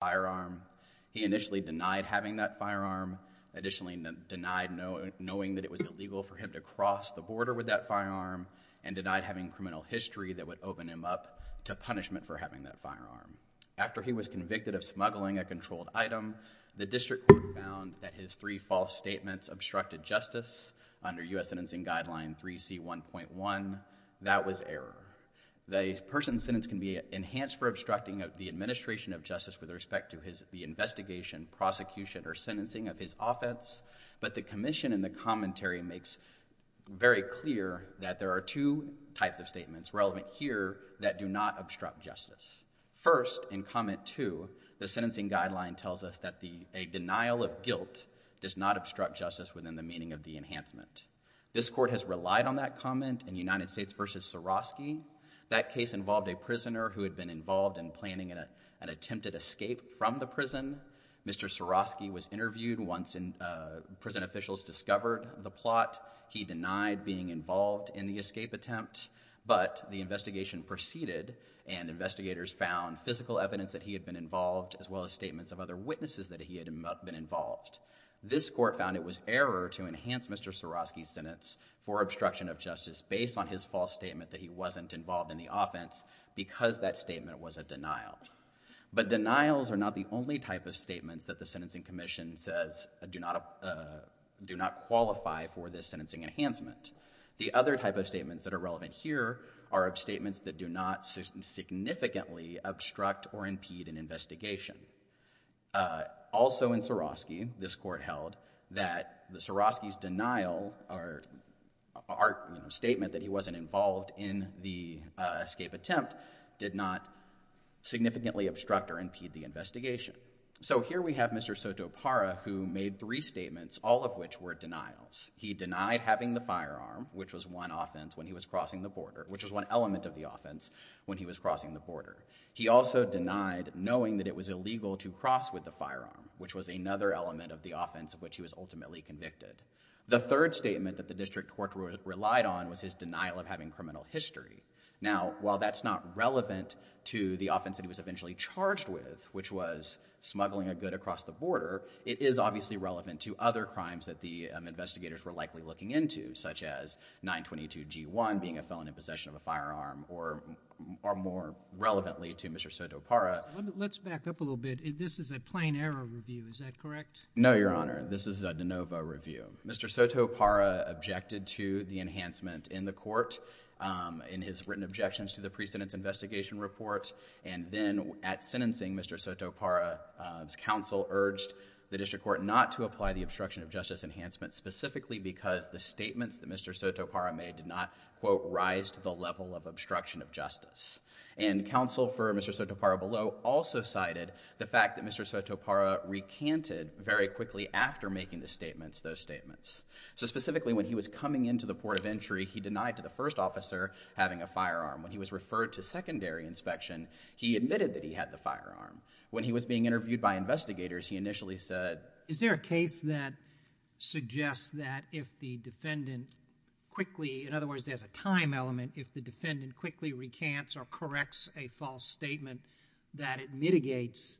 firearm. He initially denied having that firearm, additionally denied knowing that it was illegal for him to cross the border with that firearm, and denied having criminal history that would open him up to punishment for having that firearm. After he was convicted of smuggling a controlled item, the district court found that his three false statements obstructed justice under U.S. Sentencing Guideline 3C1.1. That was error. The person's sentence can be enhanced for obstructing the administration of justice with respect to the investigation, prosecution, or sentencing of his offense, but the commission in the commentary makes very clear that there are two types of statements relevant here that do not obstruct justice. First, in Comment 2, the sentencing guideline tells us that a denial of guilt does not obstruct justice within the meaning of the enhancement. This court has relied on that comment in United involved in planning an attempted escape from the prison. Mr. Swarovski was interviewed once prison officials discovered the plot. He denied being involved in the escape attempt, but the investigation proceeded and investigators found physical evidence that he had been involved as well as statements of other witnesses that he had been involved. This court found it was error to enhance Mr. Swarovski's sentence for obstruction of justice based on his false statement that he wasn't involved in the offense because that statement was a denial. But denials are not the only type of statements that the Sentencing Commission says do not qualify for this sentencing enhancement. The other type of statements that are relevant here are statements that do not significantly obstruct or impede an investigation. Also in Swarovski, this court held that Swarovski's denial or statement that he wasn't involved in the escape attempt did not significantly obstruct or impede the investigation. So here we have Mr. Sotopara who made three statements, all of which were denials. He denied having the firearm, which was one element of the offense when he was crossing the border. He also denied knowing that it was illegal to cross with the firearm, which was another element of the offense of which he was ultimately convicted. The third statement that the district court relied on was his denial of having criminal history. Now, while that's not relevant to the offense that he was eventually charged with, which was smuggling a good across the border, it is obviously relevant to other crimes that the investigators were likely looking into, such as 922 G1 being a felon in possession of a firearm, or more relevantly to Mr. Sotopara. Let's back up a little bit. This is a plain error review, is that correct? No, Your Honor. This is a de novo review. Mr. Sotopara objected to the enhancement in the court in his written objections to the precedence investigation report, and then at sentencing, Mr. Sotopara's counsel urged the district court not to apply the obstruction of justice enhancement specifically because the statements that Mr. Sotopara made did not, quote, rise to the level of obstruction of justice. And counsel for Mr. Sotopara below also cited the fact that Mr. Sotopara recanted very quickly after making the statements, those statements. So specifically, when he was coming into the port of entry, he denied to the first officer having a firearm. When he was referred to secondary inspection, he admitted that he had the firearm. When he was being interviewed by investigators, he initially said... Is there a case that suggests that if the defendant quickly, in other words, there's a time element, if the defendant quickly recants or corrects a false statement, that it mitigates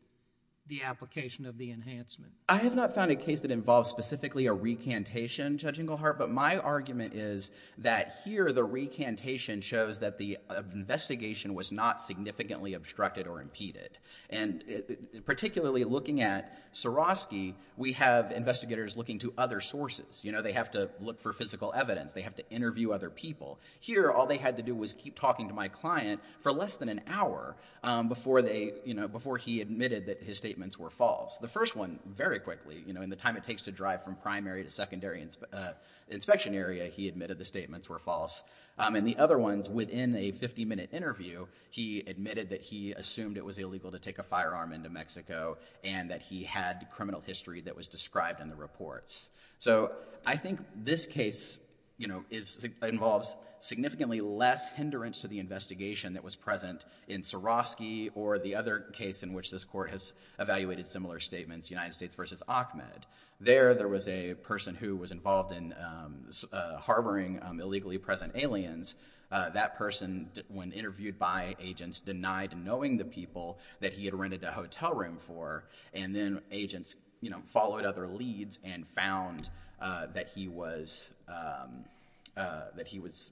the application of the enhancement? I have not found a case that involves specifically a recantation, Judge Inglehart, but my argument is that here the recantation shows that the investigation was not significantly obstructed or impeded. And particularly looking at Swarovski, we have investigators looking to other sources. They have to look for physical evidence. They have to interview other people. Here, all they had to do was keep talking to my client for less than an hour before he admitted that his statements were false. The first one, very quickly, in the time it takes to drive from primary to secondary inspection area, he admitted the statements were false. And the other ones, within a 50-minute interview, he admitted that he assumed it was illegal to take a firearm into Mexico and that he had criminal history that was described in the reports. So I think this case involves significantly less hindrance to the investigation that was present in Swarovski or the other case in which this court has evaluated similar statements, United States v. Ahmed. There, there was a person who was involved in harboring illegally present aliens. That person, when interviewed by agents, denied knowing the people that he had rented a hotel room for. And then agents, you know, followed other leads and found that he was, that he was,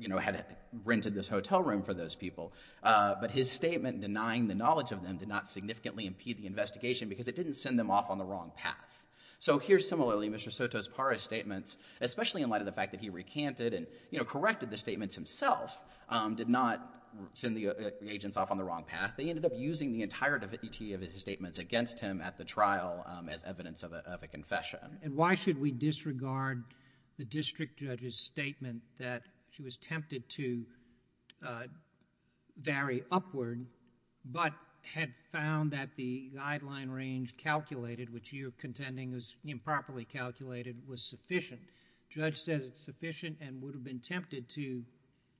you know, had rented this hotel room for those people. But his statement denying the knowledge of them did not significantly impede the investigation because it didn't send them off on the wrong path. So here, similarly, Mr. Soto's PARA statements, especially in light of the fact that he recanted and, you know, corrected the statements himself, did not send the agents off on the wrong path. They ended up using the entire DVT of his statements against him at the trial as evidence of a confession. And why should we disregard the district judge's statement that she was tempted to vary upward but had found that the guideline range calculated, which you're contending was improperly calculated, was sufficient? Judge says it's sufficient and would have been tempted to,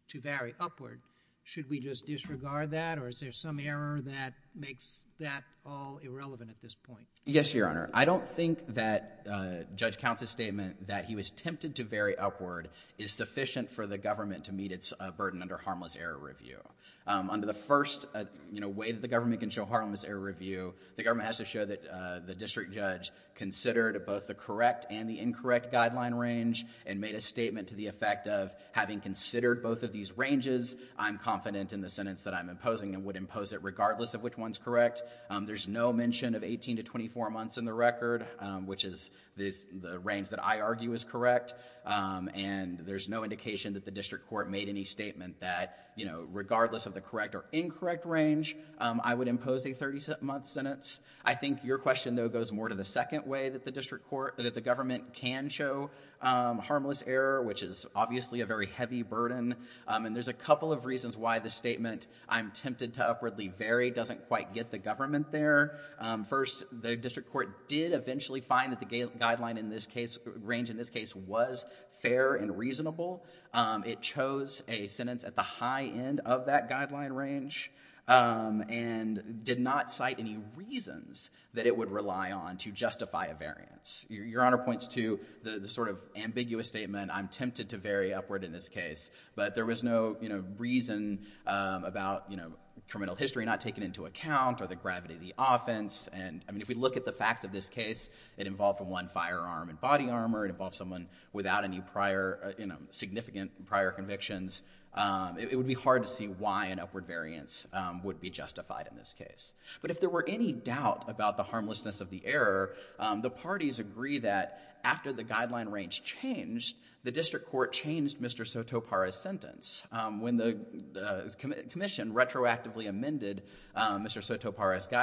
to vary upward. Should we just disregard that or is there some error that makes that all irrelevant at this point? Yes, Your Honor. I don't think that Judge Count's statement that he was tempted to vary upward is sufficient for the government to meet its burden under harmless error review. Um, under the first, you know, way that the government can show harmless error review, the government has to show that, uh, the district judge considered both the correct and the incorrect guideline range and made a statement to the effect of having considered both of these ranges, I'm confident in the sentence that I'm imposing and would impose it regardless of which one's correct. Um, there's no mention of 18 to 24 months in the record, um, which is this, the range that I argue is correct. Um, and there's no indication that the district court made any statement that, you know, regardless of the correct or incorrect range, um, I would impose a 30 month sentence. I think your question though goes more to the second way that the district court, that the government can show, um, harmless error, which is obviously a very heavy burden. Um, and there's a couple of reasons why the statement I'm tempted to upwardly vary doesn't quite get the government there. Um, first, the district court did eventually find that the ga- guideline in this case, range in this case was fair and reasonable. Um, it chose a sentence at the high end of that guideline range, um, and did not cite any reasons that it would rely on to justify a variance. Your, your honor points to the, the sort of ambiguous statement, I'm tempted to vary upward in this case, but there was no, you know, reason, um, about, you know, criminal history not taken into account or the gravity of the offense. And I mean, if we look at the facts of this case, it involved one firearm and body armor, it involved someone without any prior, uh, you know, significant prior convictions. Um, it would be hard to see why an upward variance, um, would be justified in this case. But if there were any doubt about the harmlessness of the error, um, the parties agree that after the guideline range changed, the district court changed Mr. Sotopara's sentence, um, when the, uh, comm- commission retroactively amended, um, Mr. Sotopara's sentence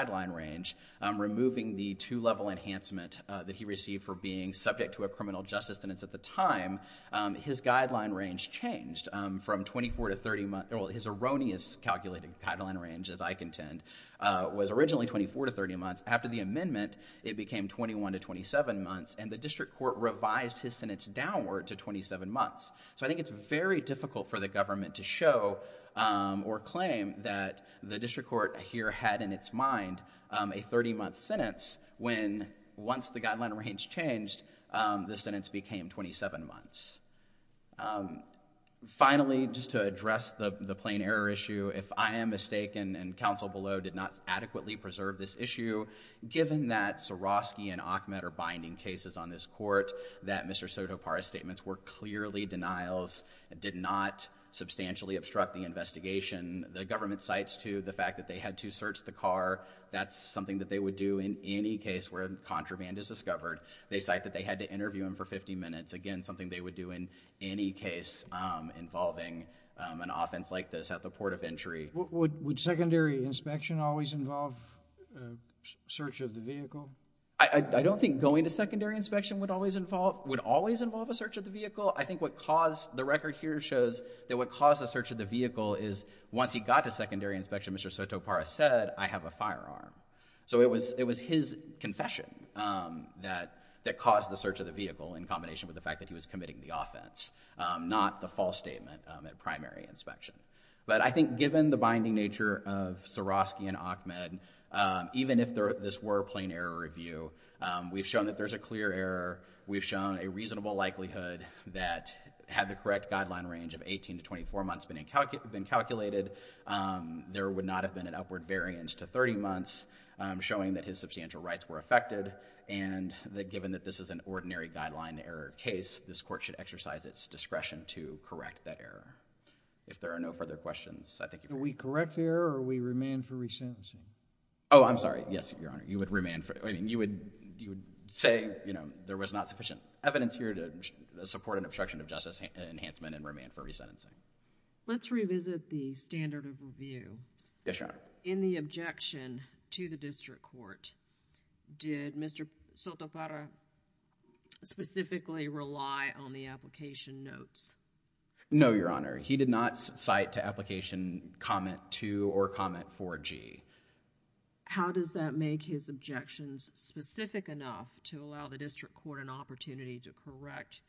he received for being subject to a criminal justice sentence at the time, um, his guideline range changed, um, from 24 to 30 months, well, his erroneous calculated guideline range, as I contend, uh, was originally 24 to 30 months. After the amendment, it became 21 to 27 months, and the district court revised his sentence downward to 27 months. So I think it's very difficult for the government to show, um, or claim that the district court here had in its mind, um, a 30-month sentence when once the guideline range changed, um, the sentence became 27 months. Um, finally, just to address the, the plain error issue, if I am mistaken and counsel below did not adequately preserve this issue, given that Swarovski and Achmed are binding cases on this court, that Mr. Sotopara's statements were clearly denials, did not substantially obstruct the investigation, the government cites to the fact that they had to search the car, that's something that they would do in any case where contraband is discovered. They cite that they had to interview him for 50 minutes, again, something they would do in any case, um, involving, um, an offense like this at the port of entry. Would, would secondary inspection always involve, uh, search of the vehicle? I, I don't think going to secondary inspection would always involve, would always involve a search of the vehicle. I think what caused, the record here shows that what caused a search of the vehicle is once he got to secondary inspection, Mr. Sotopara said, I have a firearm. So it was, it was his confession, um, that, that caused the search of the vehicle in combination with the fact that he was committing the offense, um, not the false statement, um, at primary inspection. But I think given the binding nature of Swarovski and Achmed, um, even if there, this were plain error review, um, we've shown that there's a clear error, we've shown a reasonable likelihood that had the correct guideline range of 18 to 24 months been incalculated, um, there would not have been an upward variance to 30 months, um, showing that his substantial rights were affected. And that given that this is an ordinary guideline error case, this court should exercise its discretion to correct that error. If there are no further questions, I think you're good. Can we correct the error or we remand for re-sentencing? Oh, I'm sorry. Yes, Your Honor. You would remand for, I mean, you would, you would remand for re-sentencing. But today, you know, there was not sufficient evidence here to support an obstruction of justice enhancement and remand for re-sentencing. Let's revisit the standard of review. Yes, Your Honor. In the objection to the district court, did Mr. Sotopara specifically rely on the application notes? No, Your Honor. He did not cite to application comment 2 or comment 4G. How does that make his objections specific enough to allow the district court an opportunity to correct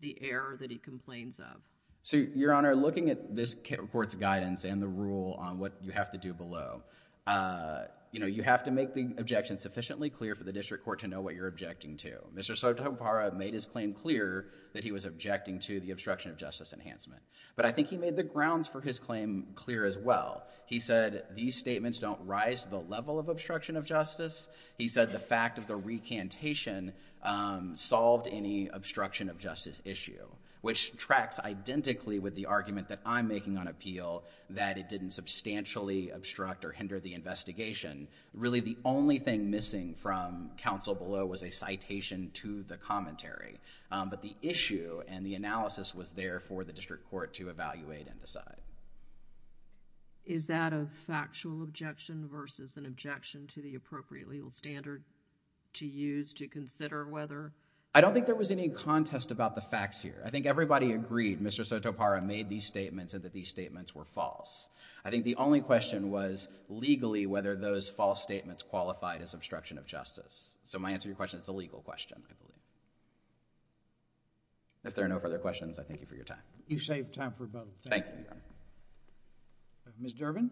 the error that he complains of? So, Your Honor, looking at this court's guidance and the rule on what you have to do below, uh, you know, you have to make the objections sufficiently clear for the district court to know what you're objecting to. Mr. Sotopara made his claim clear that he was objecting to the obstruction of justice enhancement. But I think he made the grounds for his claim clear as well. He said these statements don't rise to the level of obstruction of justice. He said the fact of the recantation, um, solved any obstruction of justice issue, which tracks identically with the argument that I'm making on appeal that it didn't substantially obstruct or hinder the investigation. Really, the only thing missing from counsel below was a citation to the commentary. Um, but the issue and the analysis was there for the district court to evaluate and decide. Is that a factual objection versus an objection to the appropriate legal standard to use to consider whether? I don't think there was any contest about the facts here. I think everybody agreed Mr. Sotopara made these statements and that these statements were false. I think the only question was legally whether those false statements qualified as obstruction of justice. So my answer to your question is a legal question, I believe. If there are no further questions, I thank you for your time. You saved time for both. Thank you. Ms. Durbin?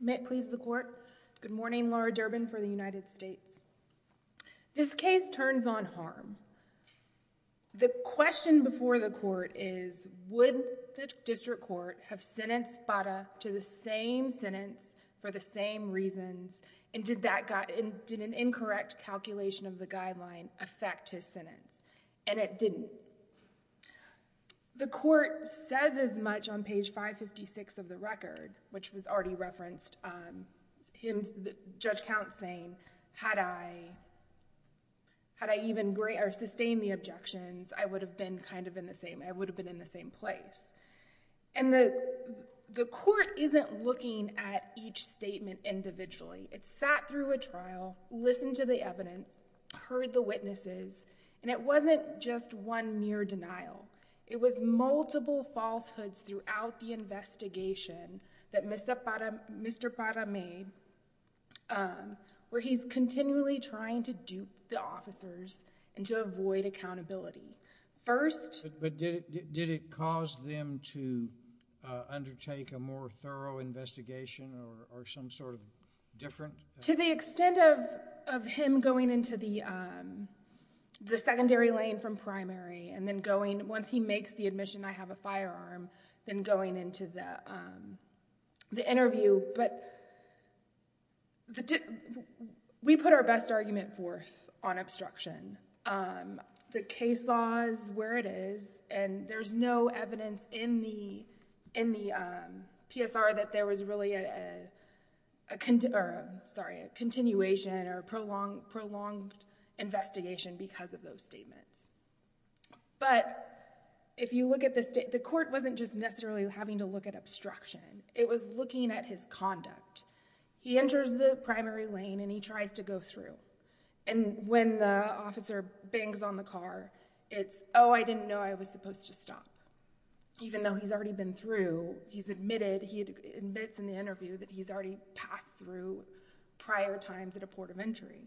May it please the Court. Good morning, Laura Durbin for the United States. This case turns on harm. The question before the Court is would the district court have sentenced Bada to the same sentence for the same reasons and did that got, did an incorrect calculation of the guideline affect his sentence? And it didn't. The Court says as much on page 556 of the record, which was already referenced, um, in Judge Counts saying, had I, had I even sustained the objections, I would have been kind of in the same, I would have been in the same place. And the, the Court isn't looking at each statement individually. It sat through a trial, listened to the evidence, heard the witnesses, and it wasn't just one near denial. It was multiple falsehoods throughout the investigation that Mr. Bada, Mr. Bada made, um, where he's continually trying to dupe the officers and to avoid accountability. First— But, but did it, did it cause them to undertake a more thorough investigation or, or some sort of difference? To the extent of, of him going into the, um, the secondary lane from primary and then going, once he makes the admission, I have a firearm, then going into the, um, the interview. But the, we put our best argument forth on obstruction. Um, the case law is where it is, and there's no evidence in the, in the, um, PSR that there was really a, a, a, or a, sorry, a continuation or prolonged, prolonged investigation because of those statements. But if you look at the state, the Court wasn't just necessarily having to look at obstruction. It was looking at his conduct. He enters the primary lane and he tries to go through. And when the officer bangs on the car, it's, oh, I didn't know I was supposed to stop. Even though he's already been through, he's admitted, he admits in the interview that he's already passed through prior times at a port of entry.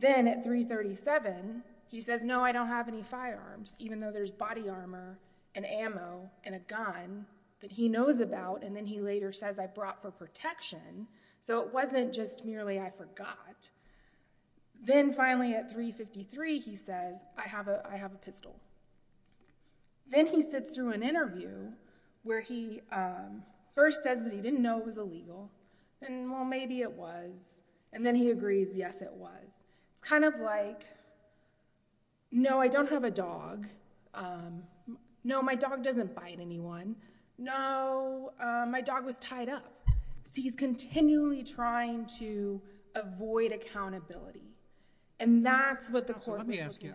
Then at 337, he says, no, I don't have any firearms, even though there's body armor and ammo and a gun that he knows about. And then he later says I brought for protection. So it wasn't just merely I forgot. Then finally at 353, he says, I have a, I have a pistol. Then he sits through an interview where he, um, first says that he didn't know it was illegal. And well, maybe it was. And then he agrees, yes, it was. It's kind of like, no, I don't have a dog. Um, no, my dog doesn't bite anyone. No, um, my dog was tied up. So he's continually trying to avoid accountability. And that's what the Court was looking at. So let me ask you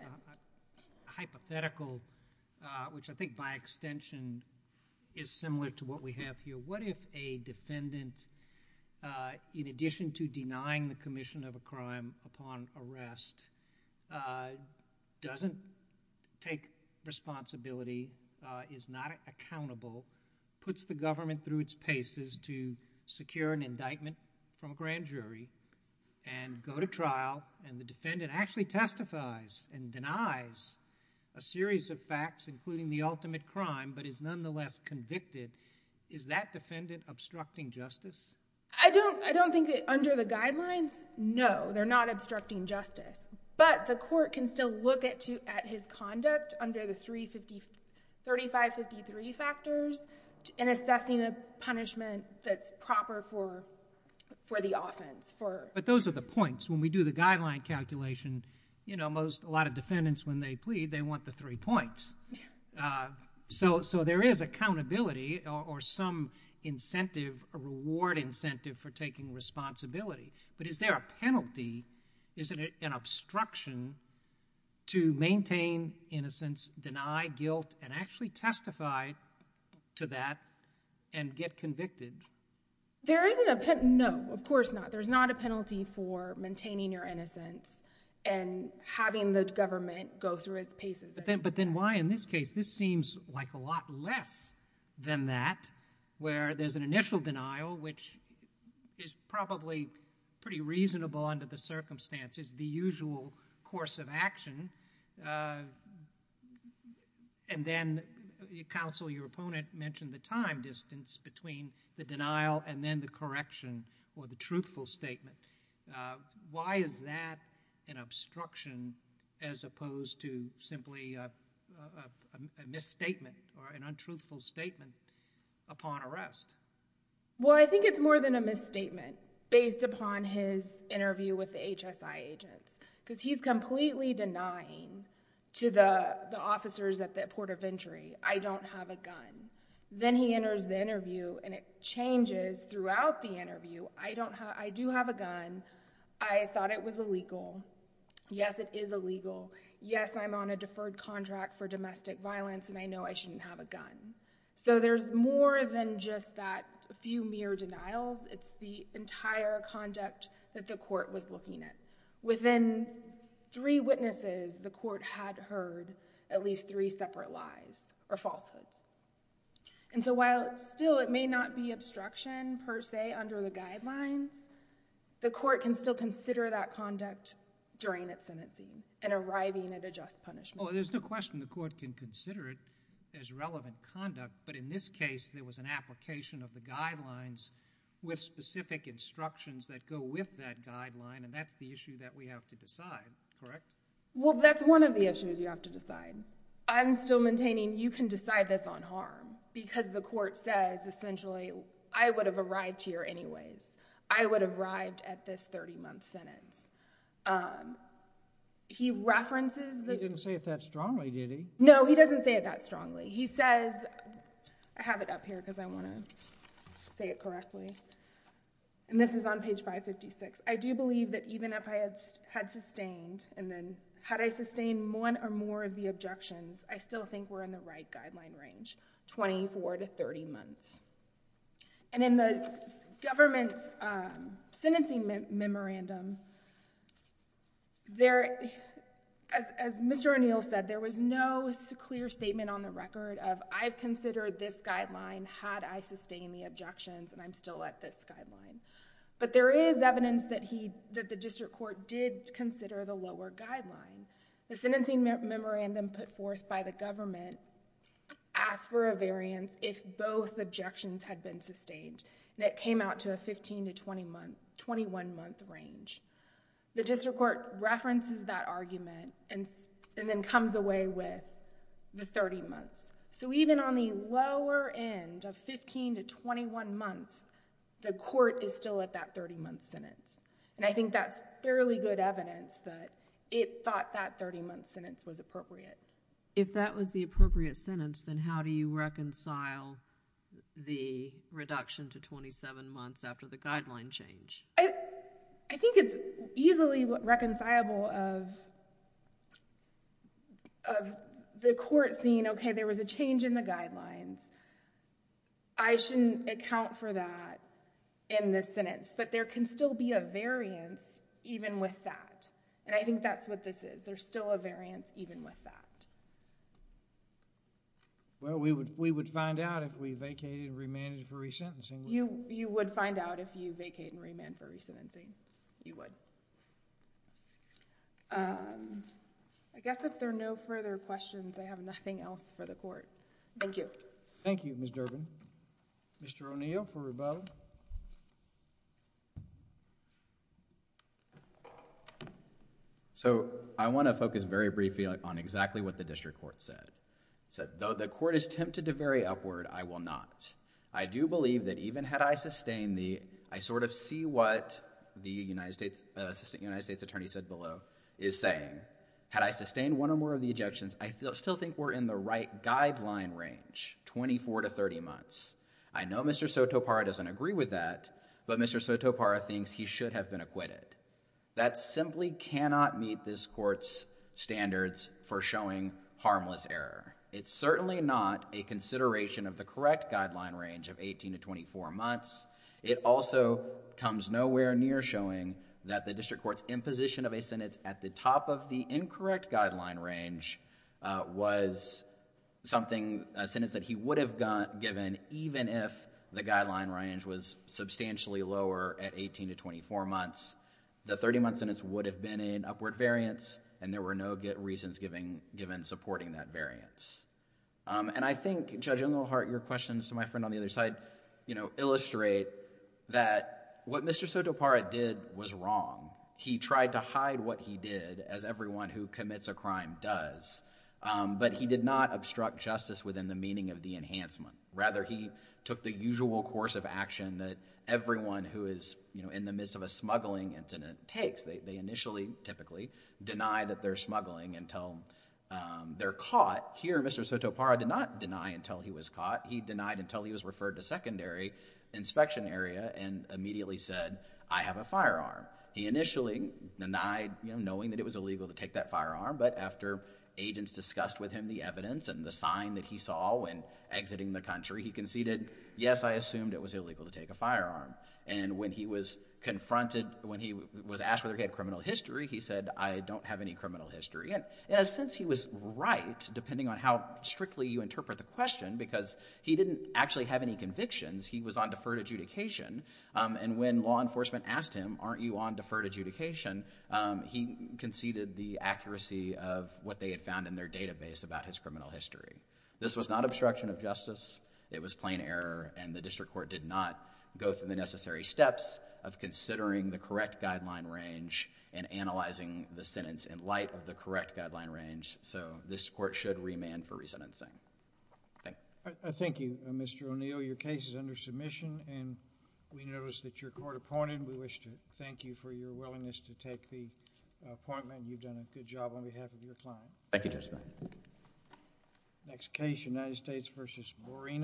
a hypothetical, uh, which I think by extension is similar to what we have here. What if a defendant, uh, in addition to denying the commission of a crime upon arrest, uh, doesn't take responsibility, uh, is not accountable, puts the government through its paces to secure an indictment from a grand jury and go to trial and the defendant actually testifies and denies a series of facts including the ultimate crime but is nonetheless convicted? Is that defendant obstructing justice? I don't, I don't think that under the guidelines, no, they're not obstructing justice. But the Court can still look at to, at his conduct under the three fifty, 3553 factors in assessing a punishment that's proper for, for the offense, for... But those are the points. When we do the guideline calculation, you know, most, a lot of defendants when they plead, they want the three points. Yeah. Uh, so, so there is accountability or, or some incentive, a reward incentive for taking responsibility. But is there a penalty, is it an obstruction to maintain innocence, deny guilt and actually testify to that and get convicted? There isn't a pen, no, of course not. There's not a penalty for maintaining your innocence and having the government go through its paces. But then, but then why in this case, this seems like a lot less than that where there's an initial denial which is probably pretty reasonable under the circumstances, the usual course of action. Uh, and then counsel, your opponent mentioned the time distance between the denial and then the correction or the truthful statement. Uh, why is that an obstruction as opposed to simply a, a, a misstatement or an untruthful statement upon arrest? Well, I think it's more than a misstatement based upon his interview with the HSI agents because he's completely denying to the, the officers at the port of entry, I don't have a gun. Then he enters the interview and it changes throughout the interview. I don't have, I do have a gun. I thought it was illegal. Yes, it is illegal. Yes, I'm on a deferred contract for domestic violence and I know I shouldn't have a gun. So there's more than just that few mere denials. It's the entire conduct that the court was looking at. Within three witnesses, the court had heard at least three separate lies or falsehoods. And so while still it may not be obstruction per se under the guidelines, the court can still consider that conduct during its sentencing and arriving at a just punishment. Oh, there's no question the court can consider it as relevant conduct, but in this case there was an application of the guidelines with specific instructions that go with that guideline and that's the issue that we have to decide, correct? Well that's one of the issues you have to decide. I'm still maintaining you can decide this on harm because the court says essentially, I would have arrived here anyways. I would have arrived at this 30 month sentence. He references the... He didn't say it that strongly, did he? No, he doesn't say it that strongly. He says, I have it up here because I want to say it and this is on page 556. I do believe that even if I had sustained and then had I sustained one or more of the objections, I still think we're in the right guideline range, 24 to 30 months. And in the government's sentencing memorandum, as Mr. O'Neill said, there was no clear statement on the record of I've considered this guideline had I sustained the objections and I'm still at this guideline. But there is evidence that the district court did consider the lower guideline. The sentencing memorandum put forth by the government asked for a variance if both objections had been sustained and it came out to a 15 to 21 month range. The district court references that argument and then comes away with the 30 months. So even on the lower end of 15 to 21 months, the court is still at that 30 month sentence. And I think that's fairly good evidence that it thought that 30 month sentence was appropriate. If that was the appropriate sentence, then how do you reconcile the reduction to 27 months after the guideline change? I think it's easily reconcilable of the court seeing, okay, there was a change in the guideline and I should account for that in this sentence. But there can still be a variance even with that. And I think that's what this is. There's still a variance even with that. We would find out if we vacated and remanded for resentencing. You would find out if you vacated and remanded for resentencing. You would. I guess if there are no further questions, I have nothing else for the court. Thank you. Thank you, Ms. Durbin. Mr. O'Neill for rebuttal. So I want to focus very briefly on exactly what the district court said. It said, though the court is tempted to vary upward, I will not. I do believe that even had I sustained the, I sort of see what the assistant United States attorney said below, is saying, had I sustained one or more of the ejections, I still think we're in the right guideline range, 24 to 30 months. I know Mr. Sotopara doesn't agree with that, but Mr. Sotopara thinks he should have been acquitted. That simply cannot meet this court's standards for showing harmless error. It's certainly not a consideration of the correct guideline range of 18 to 24 months. It also comes nowhere near showing that the district court's imposition of a sentence at the top of the incorrect guideline range was something, a sentence that he would have given even if the guideline range was substantially lower at 18 to 24 months. The 30-month sentence would have been an upward variance, and there were no reasons given supporting that variance. And I think, Judge O'Neill-Hart, your questions to my friend on the other side illustrate that what Mr. Sotopara did was wrong. He tried to hide what he did, as everyone who commits a crime does, but he did not obstruct justice within the meaning of the enhancement. Rather, he took the usual course of action that everyone who is in the midst of a smuggling incident takes. They initially, typically, deny that they're smuggling until they're caught. Here, Mr. Sotopara did not deny until he was caught. He denied until he was referred to secondary inspection area and immediately said, I have a firearm. He initially denied, knowing that it was illegal to take that firearm, but after agents discussed with him the evidence and the sign that he saw when exiting the country, he conceded, yes, I assumed it was illegal to take a firearm. And when he was confronted, when he was asked whether he had criminal history, he said, I don't have any criminal history. And in a sense, he was right, depending on how strictly you interpret the question, because he didn't actually have any convictions. He was on deferred adjudication. And when law enforcement asked him, aren't you on deferred adjudication, he conceded the accuracy of what they had found in their database about his criminal history. This was not obstruction of justice. It was plain error, and the district court did not go through the necessary steps of considering the correct guideline range and analyzing the sentence in light of the correct guideline range. So this court should remand for resentencing. Thank you. Thank you, Mr. O'Neill. Your case is under submission, and we notice that you're court appointed. We wish to thank you for your willingness to take the appointment. You've done a good job on behalf of your client. Thank you, Judge. Next case, United States v. Moreno.